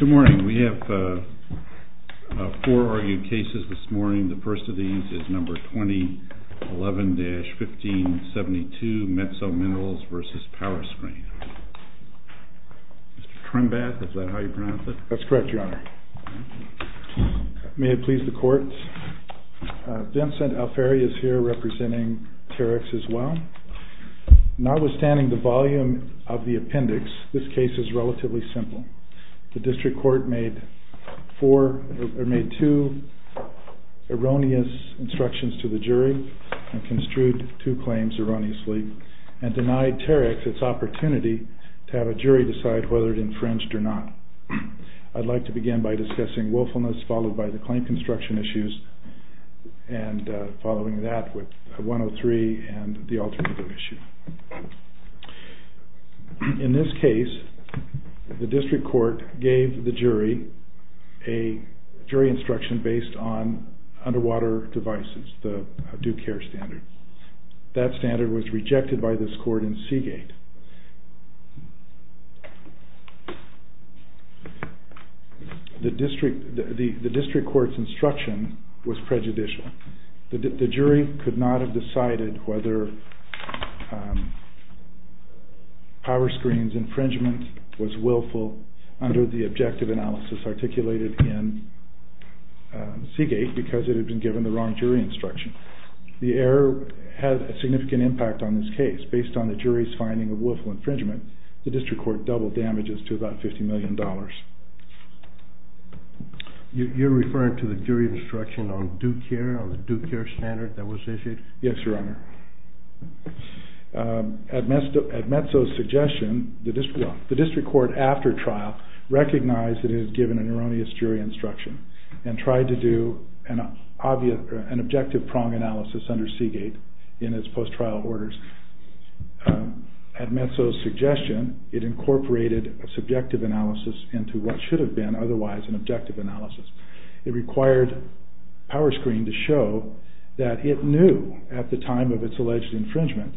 Good morning. We have four argued cases this morning. The first of these is number 2011-1572, METSO MINERALS v. POWERSCREEN. Mr. Trembath, is that how you pronounce it? That's correct, Your Honor. May it please the Court, Vincent Alfieri is here representing Terex as well. Notwithstanding the volume of the appendix, this case is relatively simple. The District Court made two erroneous instructions to the jury and construed two claims erroneously and denied Terex its opportunity to have a jury decide whether it infringed or not. I'd like to begin by discussing willfulness followed by the claim construction issues and following that with 103 and the alternative issue. In this case, the District Court gave the jury a jury instruction based on underwater devices, the due care standard. That standard was rejected by this Court in Seagate. The District Court's instruction was prejudicial. The jury could not have decided whether POWERSCREEN's infringement was willful under the objective analysis articulated in Seagate because it had been given the wrong jury instruction. The error had a significant impact on this case. Based on the jury's finding of willful infringement, the District Court doubled damages to about $50 million. You're referring to the jury instruction on due care, on the due care standard that was issued? Yes, Your Honor. At Metso's suggestion, the District Court after trial recognized that it had given an erroneous jury instruction and tried to do an objective prong analysis under Seagate in its post-trial orders. At Metso's suggestion, it incorporated a subjective analysis into what should have been otherwise an objective analysis. It required POWERSCREEN to show that it knew at the time of its alleged infringement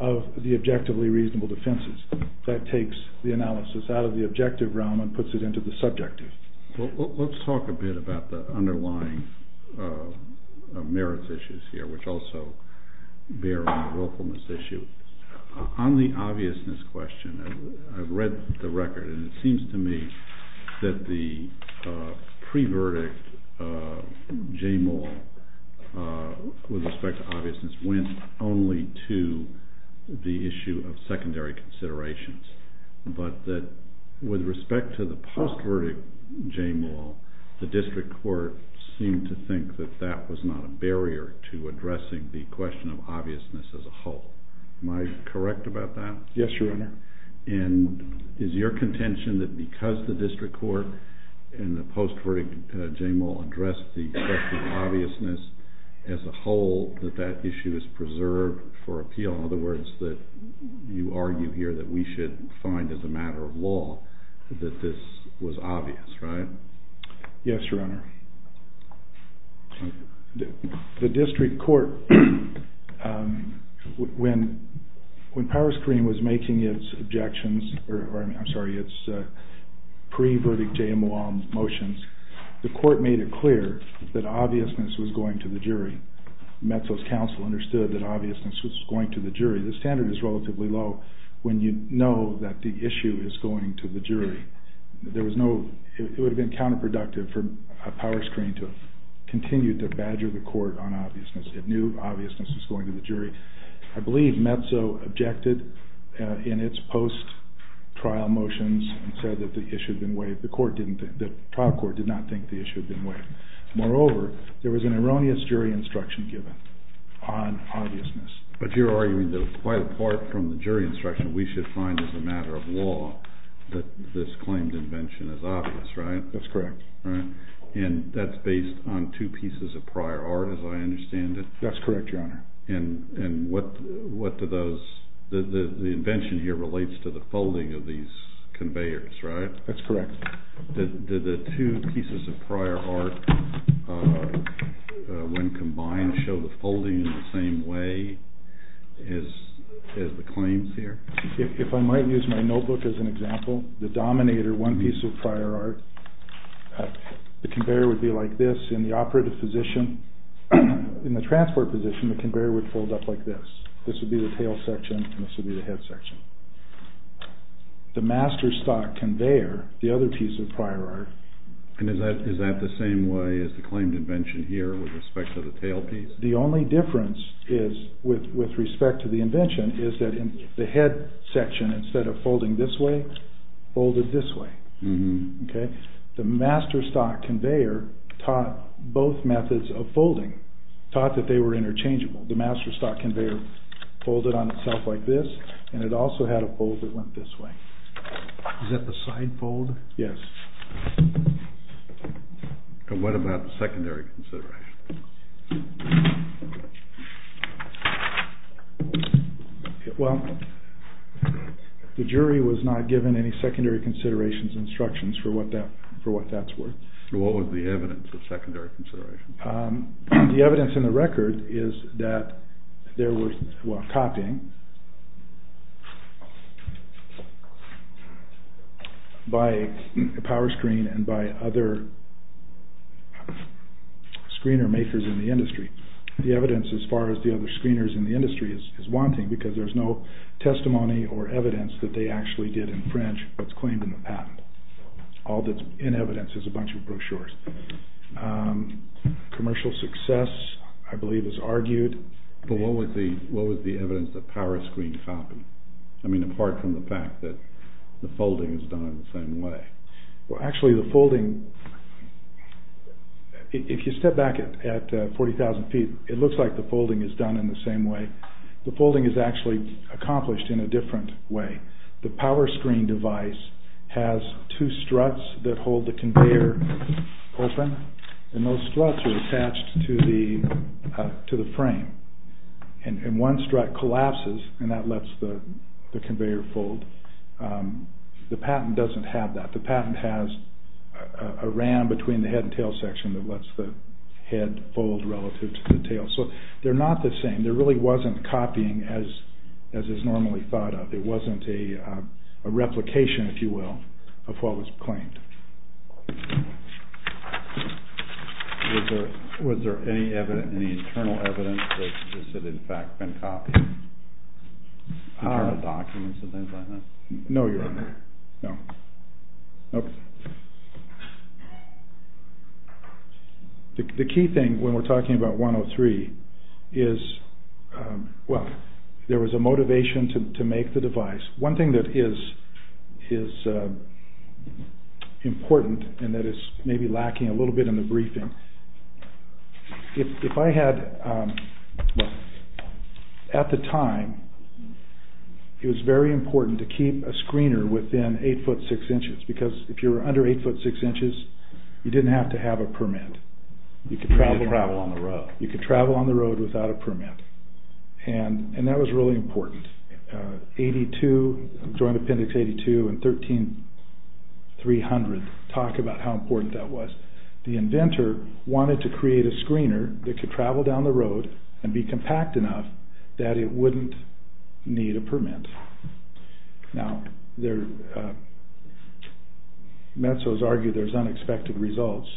of the objectively reasonable defenses. That takes the analysis out of the objective realm and puts it into the subjective. Let's talk a bit about the underlying merits issues here, which also bear on the willfulness issue. On the obviousness question, I've read the record and it seems to me that the pre-verdict J. Maul with respect to obviousness went only to the issue of secondary considerations, but that with respect to the post-verdict J. Maul, the District Court seemed to think that that was not a barrier to addressing the question of obviousness as a whole. Am I correct about that? Yes, Your Honor. And is your contention that because the District Court in the post-verdict J. Maul addressed the question of obviousness as a whole, that that issue is preserved for appeal? In other words, that you argue here that we should find as a matter of law that this was obvious, right? Yes, Your Honor. The District Court, when Power Screen was making its objections, or I'm sorry, its pre-verdict J. Maul motions, the Court made it clear that obviousness was going to the jury. Metzl's counsel understood that obviousness was going to the jury. The standard is relatively low when you know that the issue is going to the jury. There was no, it would have been counterproductive for Power Screen to have continued to badger the Court on obviousness. It knew obviousness was going to the jury. I believe Metzl objected in its post-trial motions and said that the issue had been waived. The Court didn't think, the trial court did not think the issue had been waived. Moreover, there was an erroneous jury instruction given on obviousness. But you're arguing that quite apart from the jury instruction, we should find as a matter of law that this claimed invention is obvious, right? That's correct. And that's based on two pieces of prior art, as I understand it? That's correct, Your Honor. And what do those, the invention here relates to the folding of these conveyors, right? That's correct. Did the two pieces of prior art, when combined, show the folding in the same way as the claims here? If I might use my notebook as an example, the Dominator, one piece of prior art, the conveyor would be like this. In the operative position, in the transport position, the conveyor would fold up like this. This would be the tail section and this would be the head section. The master stock conveyor, the other piece of prior art... And is that the same way as the claimed invention here with respect to the tail piece? The only difference is, with respect to the invention, is that in the head section, instead of folding this way, folded this way. Okay? The master stock conveyor taught both methods of folding, taught that they were interchangeable. The master stock conveyor folded on itself like this and it also had a fold that went this way. Is that the side fold? Yes. And what about the secondary consideration? Well, the jury was not given any secondary considerations instructions for what that's worth. What was the evidence of secondary consideration? The evidence in the record is that there was copying by a power screen and by other screener makers in the industry. The evidence as far as the other screeners in the industry is wanting because there's no testimony or evidence that they actually did infringe what's claimed in the patent. All that's in evidence is a bunch of brochures. Commercial success, I believe, is argued. But what was the evidence that power screened copy? I mean, apart from the fact that the folding is done in the same way. Well, actually, the folding, if you step back at 40,000 feet, it looks like the folding is done in the same way. The folding is actually accomplished in a different way. The power screen device has two struts that hold the conveyor open, and those struts are attached to the frame. And one strut collapses, and that lets the conveyor fold. The patent doesn't have that. The patent has a ram between the head and tail section that lets the head fold relative to the tail. So they're not the same. There really wasn't copying as is normally thought of. It wasn't a replication, if you will, of what was claimed. Was there any evidence, any internal evidence that this had in fact been copied? Internal documents and things like that? No, Your Honor. No. Nope. The key thing when we're talking about 103 is, well, there was a motivation to make the device. One thing that is important and that is maybe lacking a little bit in the briefing, if I had, at the time, it was very important to keep a screener within 8'6", because if you're under 8'6", you didn't have to have a permit. You could travel on the road. You could travel on the road without a permit. And that was really important. 82, Joint Appendix 82 and 13-300 talk about how important that was. The inventor wanted to create a screener that could travel down the road and be compact enough that it wouldn't need a permit. Now, Metzos argue there's unexpected results.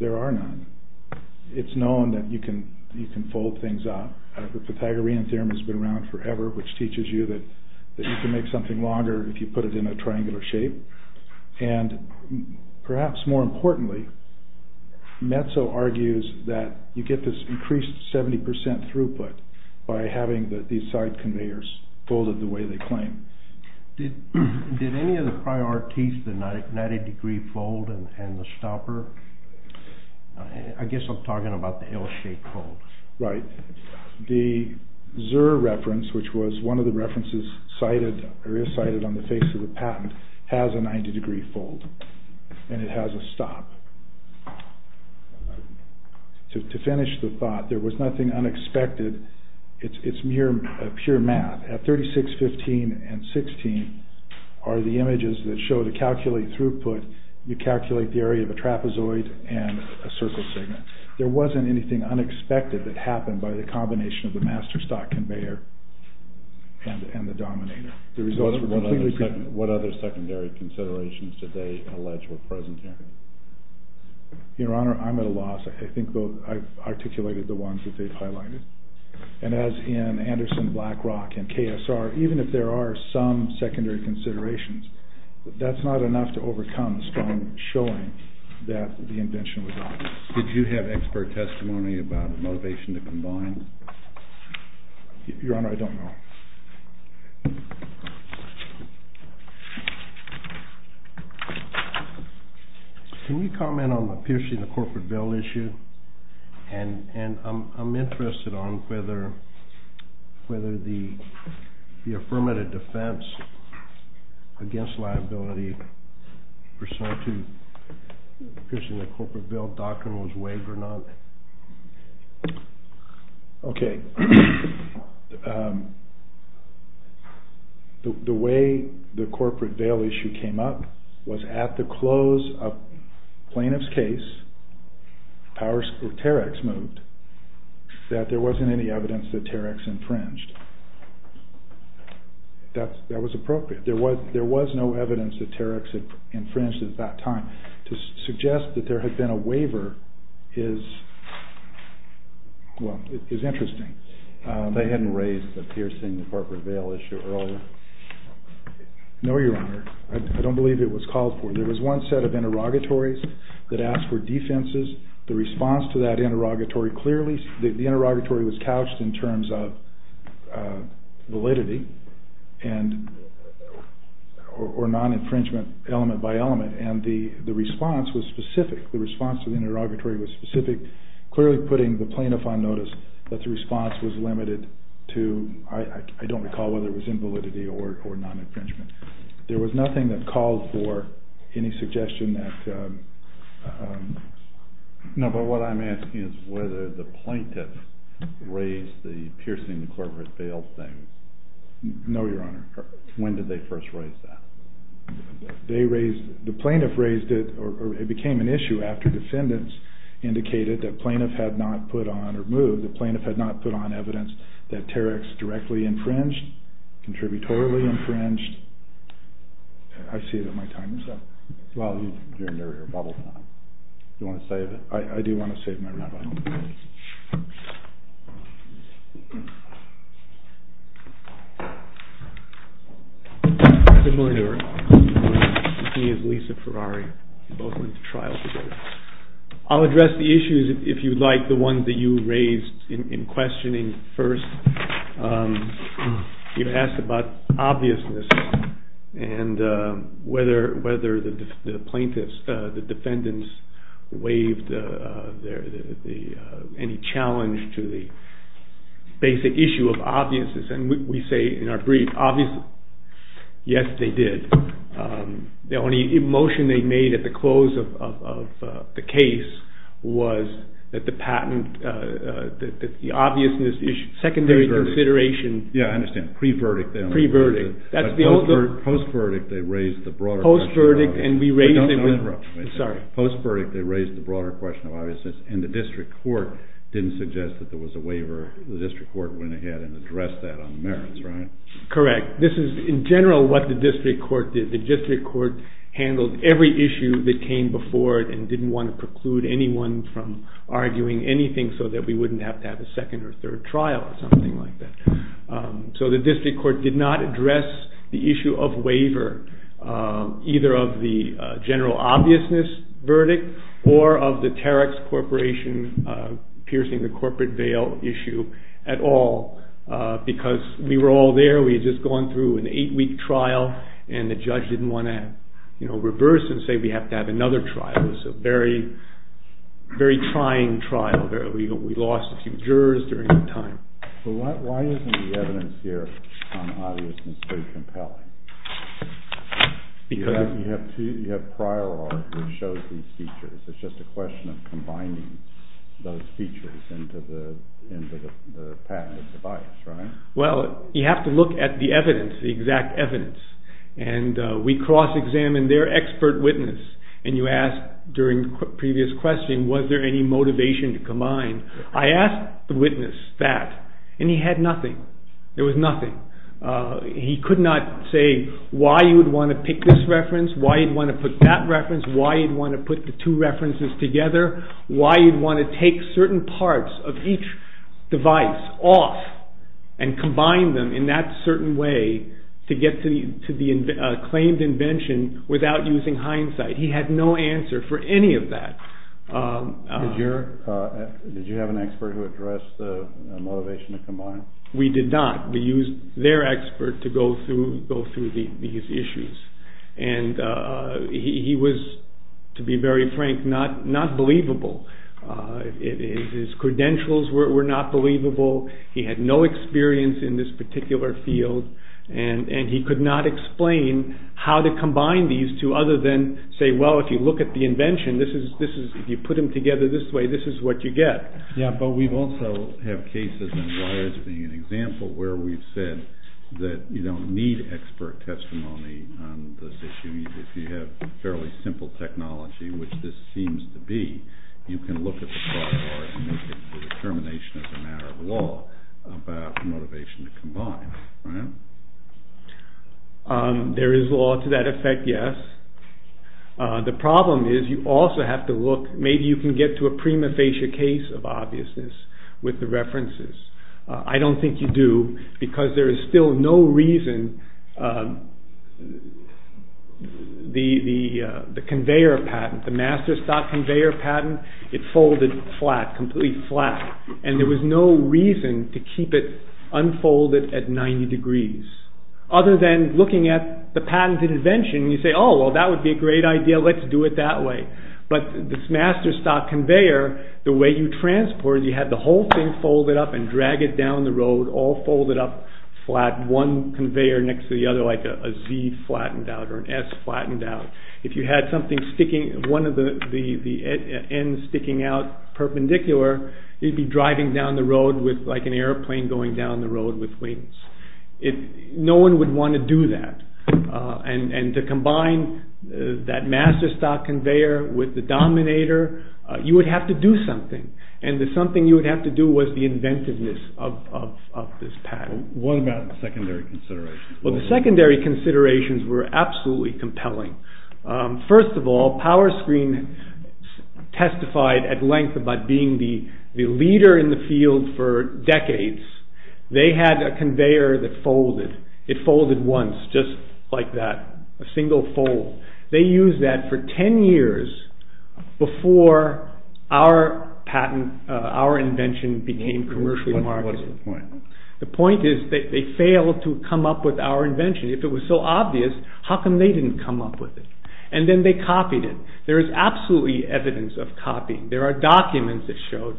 There are none. It's known that you can fold things up. The Pythagorean theorem has been around forever, which teaches you that you can make something longer if you put it in a triangular shape. And perhaps more importantly, Metzos argues that you get this increased 70% throughput by having these side conveyors folded the way they claim. Did any of the priorities, the 90-degree fold and the stopper, I guess I'm talking about the L-shaped fold. Right. The Zur reference, which was one of the references cited, or is cited on the face of the patent, has a 90-degree fold. And it has a stop. To finish the thought, there was nothing unexpected. It's pure math. At 36-15 and 16 are the images that show the calculated throughput. You calculate the area of a trapezoid and a circle segment. There wasn't anything unexpected that happened by the combination of the master stock conveyor and the dominator. What other secondary considerations did they allege were present here? Your Honor, I'm at a loss. I think I've articulated the ones that they've highlighted. And as in Anderson, BlackRock, and KSR, even if there are some secondary considerations, that's not enough to overcome the strong showing that the invention was obvious. Did you have expert testimony about the motivation to combine? Your Honor, I don't know. Can you comment on the piercing the corporate bill issue? And I'm interested on whether the affirmative defense against liability pursuant to piercing the corporate bill doctrine was waived or not. The way the corporate bail issue came up was at the close of plaintiff's case, Terex moved, that there wasn't any evidence that Terex infringed. That was appropriate. There was no evidence that Terex had infringed at that time. To suggest that there had been a waiver is interesting. They hadn't raised the piercing the corporate bail issue earlier? No, Your Honor. I don't believe it was called for. There was one set of interrogatories that asked for defenses. The response to that interrogatory clearly, the interrogatory was couched in terms of validity. Or non-infringement element by element. And the response was specific. The response to the interrogatory was specific. Clearly putting the plaintiff on notice that the response was limited to, I don't recall whether it was invalidity or non-infringement. There was nothing that called for any suggestion that... No, but what I'm asking is whether the plaintiff raised the piercing the corporate bail thing. No, Your Honor. When did they first raise that? They raised, the plaintiff raised it, or it became an issue after defendants indicated that plaintiff had not put on, or moved, that plaintiff had not put on evidence that Terex directly infringed, contributorily infringed. I see that my time is up. Well, you're in your bubble now. You want to save it? I do want to save my rebuttal. Good morning, Your Honor. My name is Lisa Ferrari. We both went to trial today. I'll address the issues, if you'd like, the ones that you raised in questioning first. You asked about obviousness and whether the plaintiffs, the defendants, waived any challenge to the basic issue of obviousness. We say in our brief, obvious, yes, they did. The only emotion they made at the close of the case was that the patent, that the obviousness issue, secondary consideration... Yeah, I understand. Pre-verdict then. Pre-verdict. Post-verdict, they raised the broader question of obviousness. Post-verdict, and we raised it with... Don't interrupt me. Sorry. Post-verdict, they raised the broader question of obviousness, and the district court didn't suggest that there was a waiver. The district court went ahead and addressed that on the merits, right? Correct. This is, in general, what the district court did. The district court handled every issue that came before it and didn't want to preclude anyone from arguing anything so that we wouldn't have to have a second or third trial or something like that. So the district court did not address the issue of waiver, either of the general obviousness verdict or of the Terex Corporation piercing the corporate veil issue at all because we were all there, we had just gone through an 8-week trial, and the judge didn't want to reverse and say we have to have another trial. It was a very trying trial. We lost a few jurors during that time. But why isn't the evidence here on obviousness so compelling? Because... You have prior law that shows these features. It's just a question of combining those features into the patent of the bias, right? Well, you have to look at the evidence, the exact evidence. And we cross-examined their expert witness, and you asked during the previous question, was there any motivation to combine? I asked the witness that, and he had nothing. There was nothing. He could not say why you would want to pick this reference, why you'd want to put that reference, why you'd want to put the two references together, why you'd want to take certain parts of each device off and combine them in that certain way to get to the claimed invention without using hindsight. He had no answer for any of that. We did not. We used their expert to go through these issues. And he was, to be very frank, not believable. His credentials were not believable. He had no experience in this particular field, and he could not explain how to combine these two other than say, well, if you look at the invention, if you put them together this way, this is what you get. Yeah, but we also have cases, and wires being an example, where we've said that you don't need expert testimony on this issue. If you have fairly simple technology, which this seems to be, you can look at the broad bars and make a determination as a matter of law about motivation to combine. There is law to that effect, yes. The problem is you also have to look, maybe you can get to a prima facie case of obviousness with the references. I don't think you do, because there is still no reason the conveyor patent, the master stock conveyor patent, it folded flat, completely flat. And there was no reason to keep it unfolded at 90 degrees. Other than looking at the patent invention, you say, oh, well that would be a great idea, let's do it that way. But this master stock conveyor, the way you transport it, you have the whole thing folded up and drag it down the road, all folded up flat, one conveyor next to the other, like a Z flattened out or an S flattened out. If you had one of the ends sticking out perpendicular, you'd be driving down the road like an airplane going down the road with wings. No one would want to do that. And to combine that master stock conveyor with the dominator, you would have to do something. And the something you would have to do was the inventiveness of this patent. What about secondary considerations? Well, the secondary considerations were absolutely compelling. First of all, PowerScreen testified at length about being the leader in the field for decades. They had a conveyor that folded. It folded once, just like that, a single fold. They used that for 10 years before our patent, our invention became commercially marketed. What is the point? The point is they failed to come up with our invention. If it was so obvious, how come they didn't come up with it? And then they copied it. There is absolutely evidence of copying. There are documents that showed.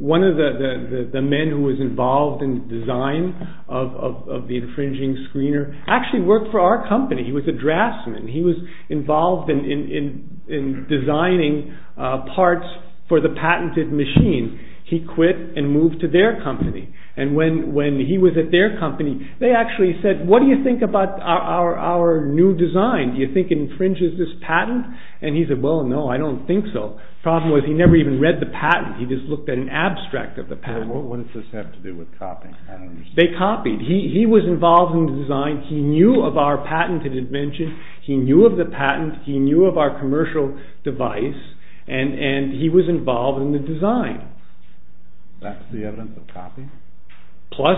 One of the men who was involved in the design of the infringing screener actually worked for our company. He was a draftsman. He was involved in designing parts for the patented machine. He quit and moved to their company. And when he was at their company, they actually said, what do you think about our new design? Do you think it infringes this patent? And he said, well, no, I don't think so. The problem was he never even read the patent. He just looked at an abstract of the patent. What does this have to do with copying? They copied. He was involved in the design. He knew of our patented invention. He knew of the patent. He knew of our commercial device. And he was involved in the design. That's the evidence of copying? Plus,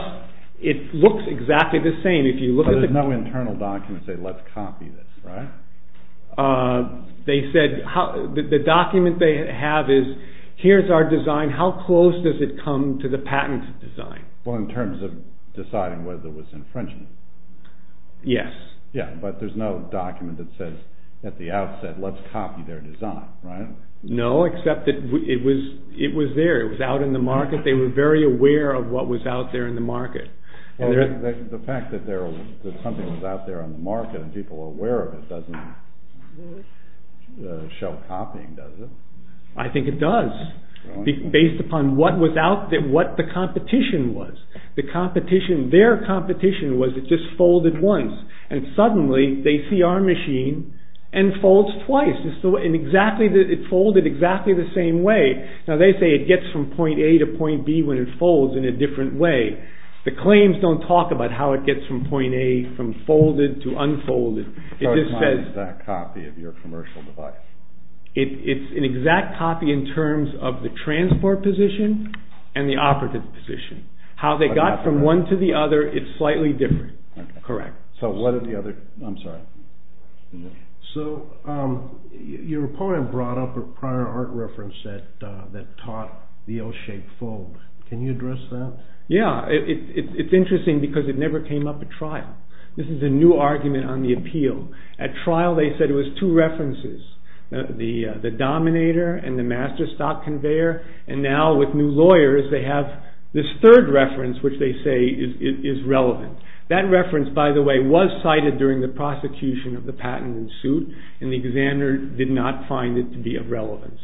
it looks exactly the same. There are no internal documents that say, let's copy this, right? The document they have is, here's our design. How close does it come to the patent design? Well, in terms of deciding whether it was infringing. Yes. Yeah, but there's no document that says at the outset, let's copy their design, right? No, except that it was there. It was out in the market. They were very aware of what was out there in the market. The fact that something was out there in the market and people were aware of it doesn't show copying, does it? I think it does, based upon what the competition was. Their competition was, it just folded once. And suddenly, they see our machine and folds twice. It folded exactly the same way. Now, they say it gets from point A to point B when it folds in a different way. The claims don't talk about how it gets from point A, from folded to unfolded. So, it's not an exact copy of your commercial device? It's an exact copy in terms of the transport position and the operative position. How they got from one to the other is slightly different. Okay. Correct. So, what are the other, I'm sorry. So, your opponent brought up a prior art reference that taught the L-shaped fold. Can you address that? Yeah. It's interesting because it never came up at trial. This is a new argument on the appeal. At trial, they said it was two references, the dominator and the master stock conveyor. And now, with new lawyers, they have this third reference which they say is relevant. That reference, by the way, was cited during the prosecution of the patent in suit. And the examiner did not find it to be of relevance.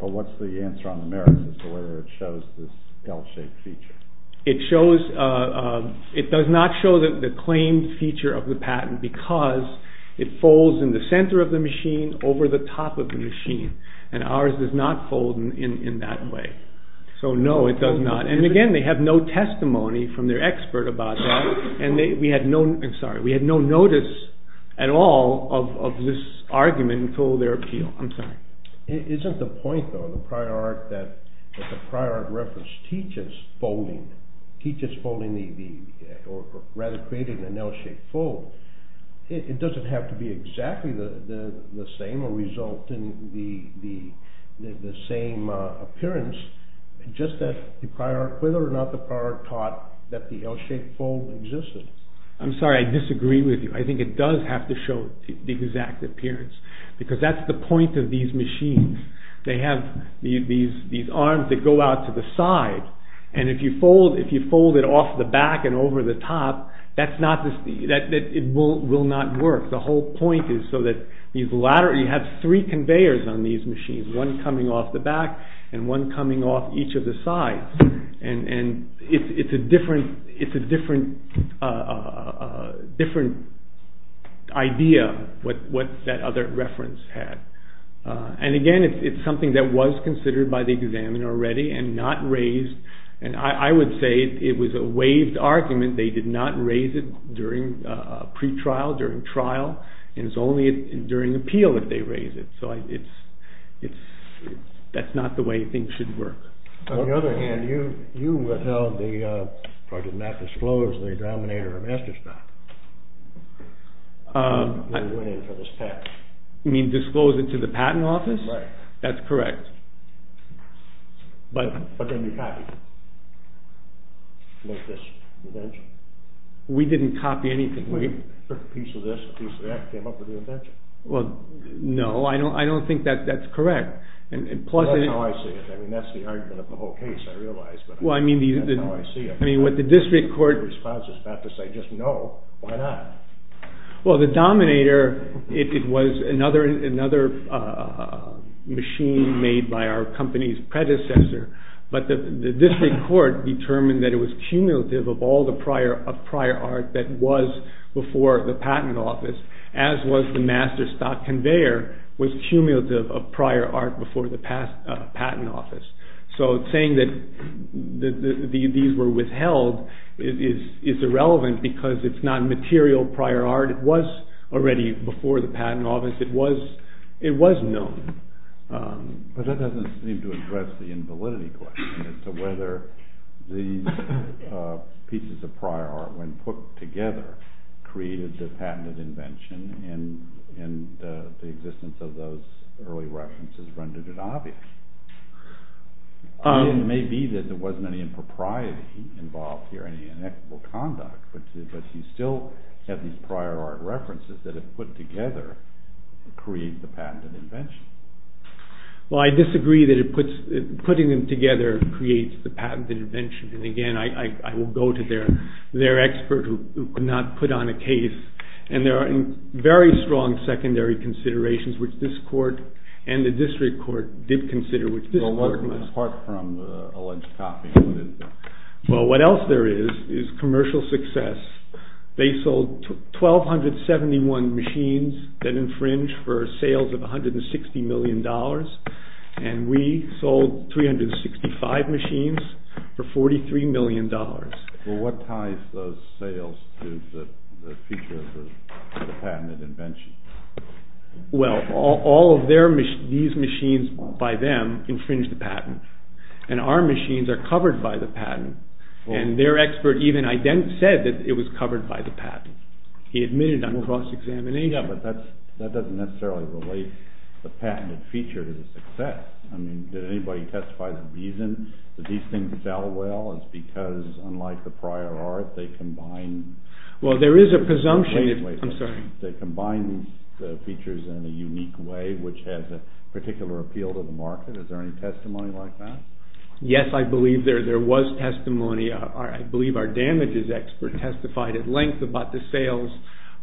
But what's the answer on the merits as to whether it shows this L-shaped feature? It does not show the claimed feature of the patent because it folds in the center of the machine over the top of the machine. And ours does not fold in that way. So, no, it does not. And again, they have no testimony from their expert about that. And we had no notice at all of this argument until their appeal. I'm sorry. Isn't the point, though, that the prior art reference teaches folding or rather creating an L-shaped fold, it doesn't have to be exactly the same or result in the same appearance, just that the prior art, whether or not the prior art taught that the L-shaped fold existed. I'm sorry, I disagree with you. I think it does have to show the exact appearance because that's the point of these machines. They have these arms that go out to the side. And if you fold it off the back and over the top, it will not work. The whole point is so that you have three conveyors on these machines, one coming off the back and one coming off each of the sides. And it's a different idea what that other reference had. And again, it's something that was considered by the examiner already and not raised. And I would say it was a waived argument. They did not raise it during pretrial, during trial. And it's only during appeal that they raise it. So that's not the way things should work. On the other hand, you held the project not disclosed to the denominator or master stock. They went in for this patent. You mean disclose it to the patent office? Right. That's correct. But then you copied it. Make this invention. We didn't copy anything. We put a piece of this, a piece of that, came up with the invention. Well, no, I don't think that's correct. Well, that's how I see it. I mean, that's the argument of the whole case, I realize. But that's how I see it. I mean, what the district court response is about to say, just no, why not? Well, the dominator, it was another machine made by our company's predecessor. But the district court determined that it was cumulative of all the prior art that was before the patent office, as was the master stock conveyor, was cumulative of prior art before the patent office. So saying that these were withheld is irrelevant because it's not material prior art. It was already before the patent office. It was known. But that doesn't seem to address the invalidity question as to whether these pieces of prior art, when put together, created the patented invention and the existence of those early references rendered it obvious. It may be that there wasn't any impropriety involved here, any inexorable conduct, but you still have these prior art references that, if put together, create the patented invention. Well, I disagree that putting them together creates the patented invention. And, again, I will go to their expert who could not put on a case. And there are very strong secondary considerations, which this court and the district court did consider, which this court did not. Well, apart from alleged copying, what is there? Well, what else there is is commercial success. They sold 1,271 machines that infringe for sales of $160 million, and we sold 365 machines for $43 million. Well, what ties those sales to the future of the patented invention? Well, all of these machines by them infringe the patent. And our machines are covered by the patent. And their expert even said that it was covered by the patent. He admitted on cross-examination. Yeah, but that doesn't necessarily relate the patented feature to the success. I mean, did anybody testify the reason that these things sell well is because, unlike the prior art, they combine the features in a unique way, which has a particular appeal to the market? Is there any testimony like that? Yes, I believe there was testimony. I believe our damages expert testified at length about the sales,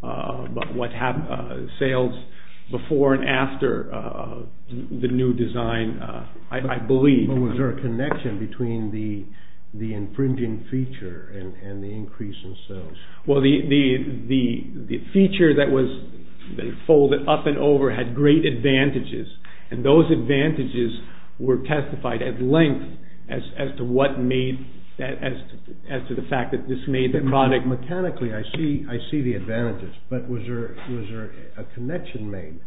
about what happened to sales before and after the new design, I believe. But was there a connection between the infringing feature and the increase in sales? Well, the feature that was folded up and over had great advantages, and those advantages were testified at length as to what made that, as to the fact that this made the product. Mechanically, I see the advantages, but was there a connection made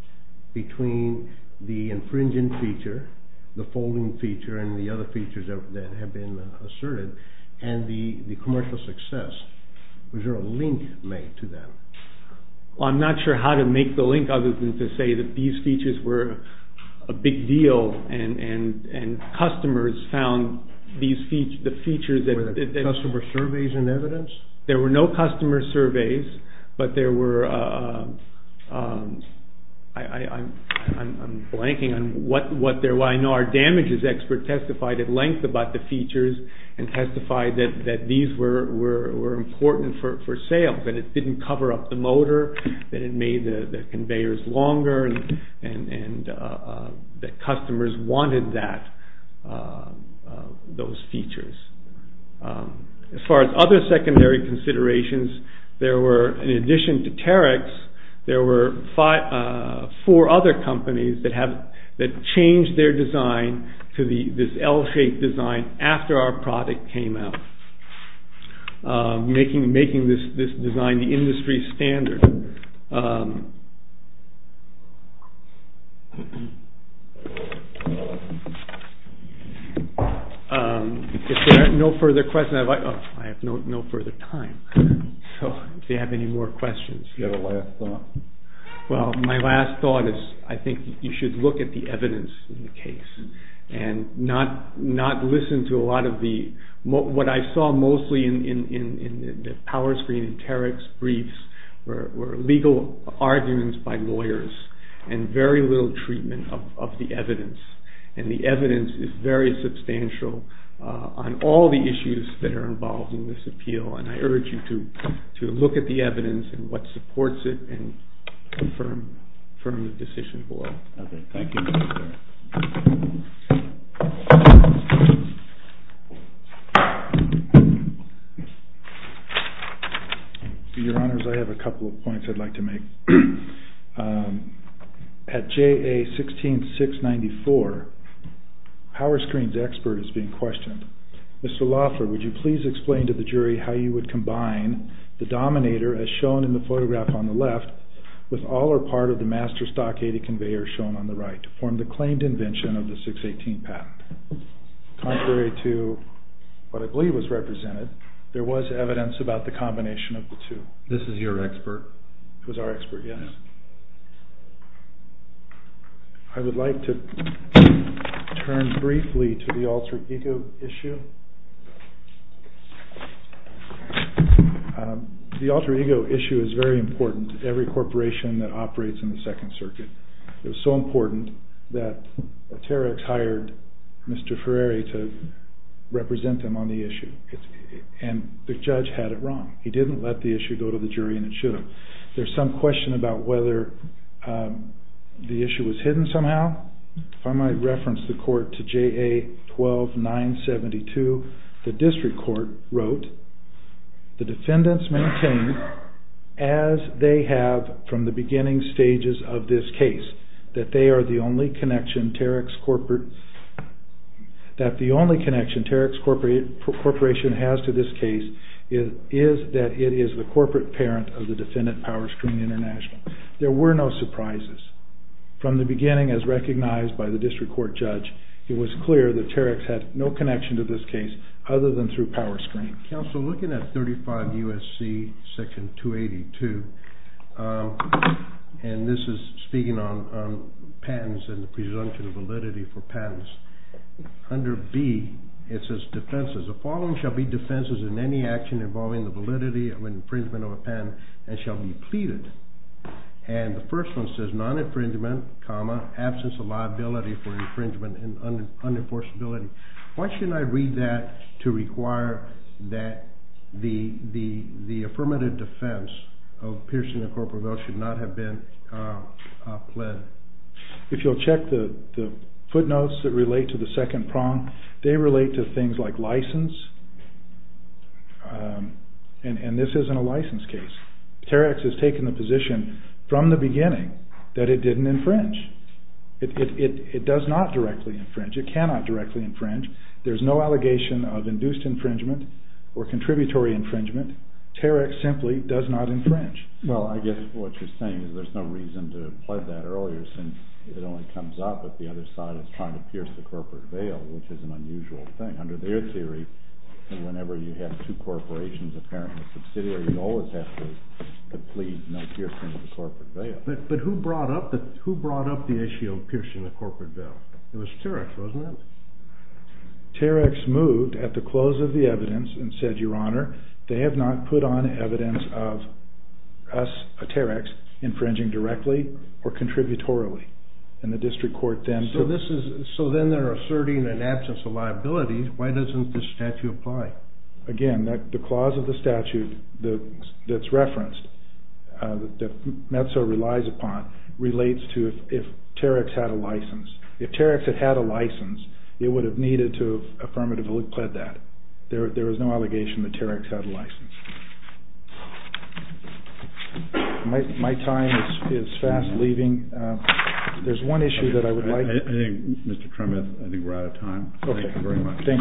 between the infringing feature, the folding feature and the other features that have been asserted, and the commercial success? Was there a link made to that? I'm not sure how to make the link other than to say that these features were a big deal and customers found the features that… Were there customer surveys and evidence? There were no customer surveys, but there were… I'm blanking on what there were. I know our damages expert testified at length about the features and testified that these were important for sales and that it didn't cover up the motor, that it made the conveyors longer, and that customers wanted those features. As far as other secondary considerations, there were, in addition to Terex, there were four other companies that changed their design to this L-shaped design after our product came out. Making this design the industry standard. If there are no further questions… I have no further time, so if you have any more questions… Do you have a last thought? Well, my last thought is I think you should look at the evidence in the case and not listen to a lot of the… What I saw mostly in the PowerScreen and Terex briefs were legal arguments by lawyers and very little treatment of the evidence. And the evidence is very substantial on all the issues that are involved in this appeal and I urge you to look at the evidence and what supports it and affirm the decision below. Okay, thank you. Your Honors, I have a couple of points I'd like to make. At JA 16694, PowerScreen's expert is being questioned. Mr. Loffler, would you please explain to the jury how you would combine the Dominator, as shown in the photograph on the left, with all or part of the Master Stock 80 conveyor shown on the right to form the claimed invention of the 618 patent? Contrary to what I believe was represented, there was evidence about the combination of the two. This is your expert? It was our expert, yes. I would like to turn briefly to the alter ego issue. The alter ego issue is very important to every corporation that operates in the Second Circuit. It was so important that Terex hired Mr. Ferreri to represent them on the issue. And the judge had it wrong. He didn't let the issue go to the jury and it should have. There's some question about whether the issue was hidden somehow. If I might reference the court to JA 12972, the district court wrote, the defendants maintain, as they have from the beginning stages of this case, that the only connection Terex Corporation has to this case is that it is the corporate parent of the defendant Power Screen International. There were no surprises. From the beginning, as recognized by the district court judge, it was clear that Terex had no connection to this case other than through Power Screen. Counselor, looking at 35 U.S.C. Section 282, and this is speaking on patents and the presumption of validity for patents, under B, it says defenses. The following shall be defenses in any action involving the validity of an infringement of a patent and shall be pleaded. And the first one says non-infringement, absence of liability for infringement and unenforceability. Why shouldn't I read that to require that the affirmative defense of Pearson and Corporate Bell should not have been pled? If you'll check the footnotes that relate to the second prong, they relate to things like license, and this isn't a license case. Terex has taken the position from the beginning that it didn't infringe. It does not directly infringe. It cannot directly infringe. There's no allegation of induced infringement or contributory infringement. Terex simply does not infringe. Well, I guess what you're saying is there's no reason to pled that earlier since it only comes up, but the other side is trying to pierce the corporate veil, which is an unusual thing. Under their theory, whenever you have two corporations, apparently a subsidiary, you always have to plead no piercing of the corporate veil. But who brought up the issue of piercing the corporate veil? It was Terex, wasn't it? Terex moved at the close of the evidence and said, Your Honor, they have not put on evidence of us, Terex, infringing directly or contributorily. So then they're asserting an absence of liability. Why doesn't this statute apply? Again, the clause of the statute that's referenced, that METSO relies upon, relates to if Terex had a license. If Terex had had a license, it would have needed to have affirmatively pled that. There is no allegation that Terex had a license. My time is fast leaving. There's one issue that I would like to... I think, Mr. Tremuth, I think we're out of time. Thank you very much. Thank you. Thank you. Thank you.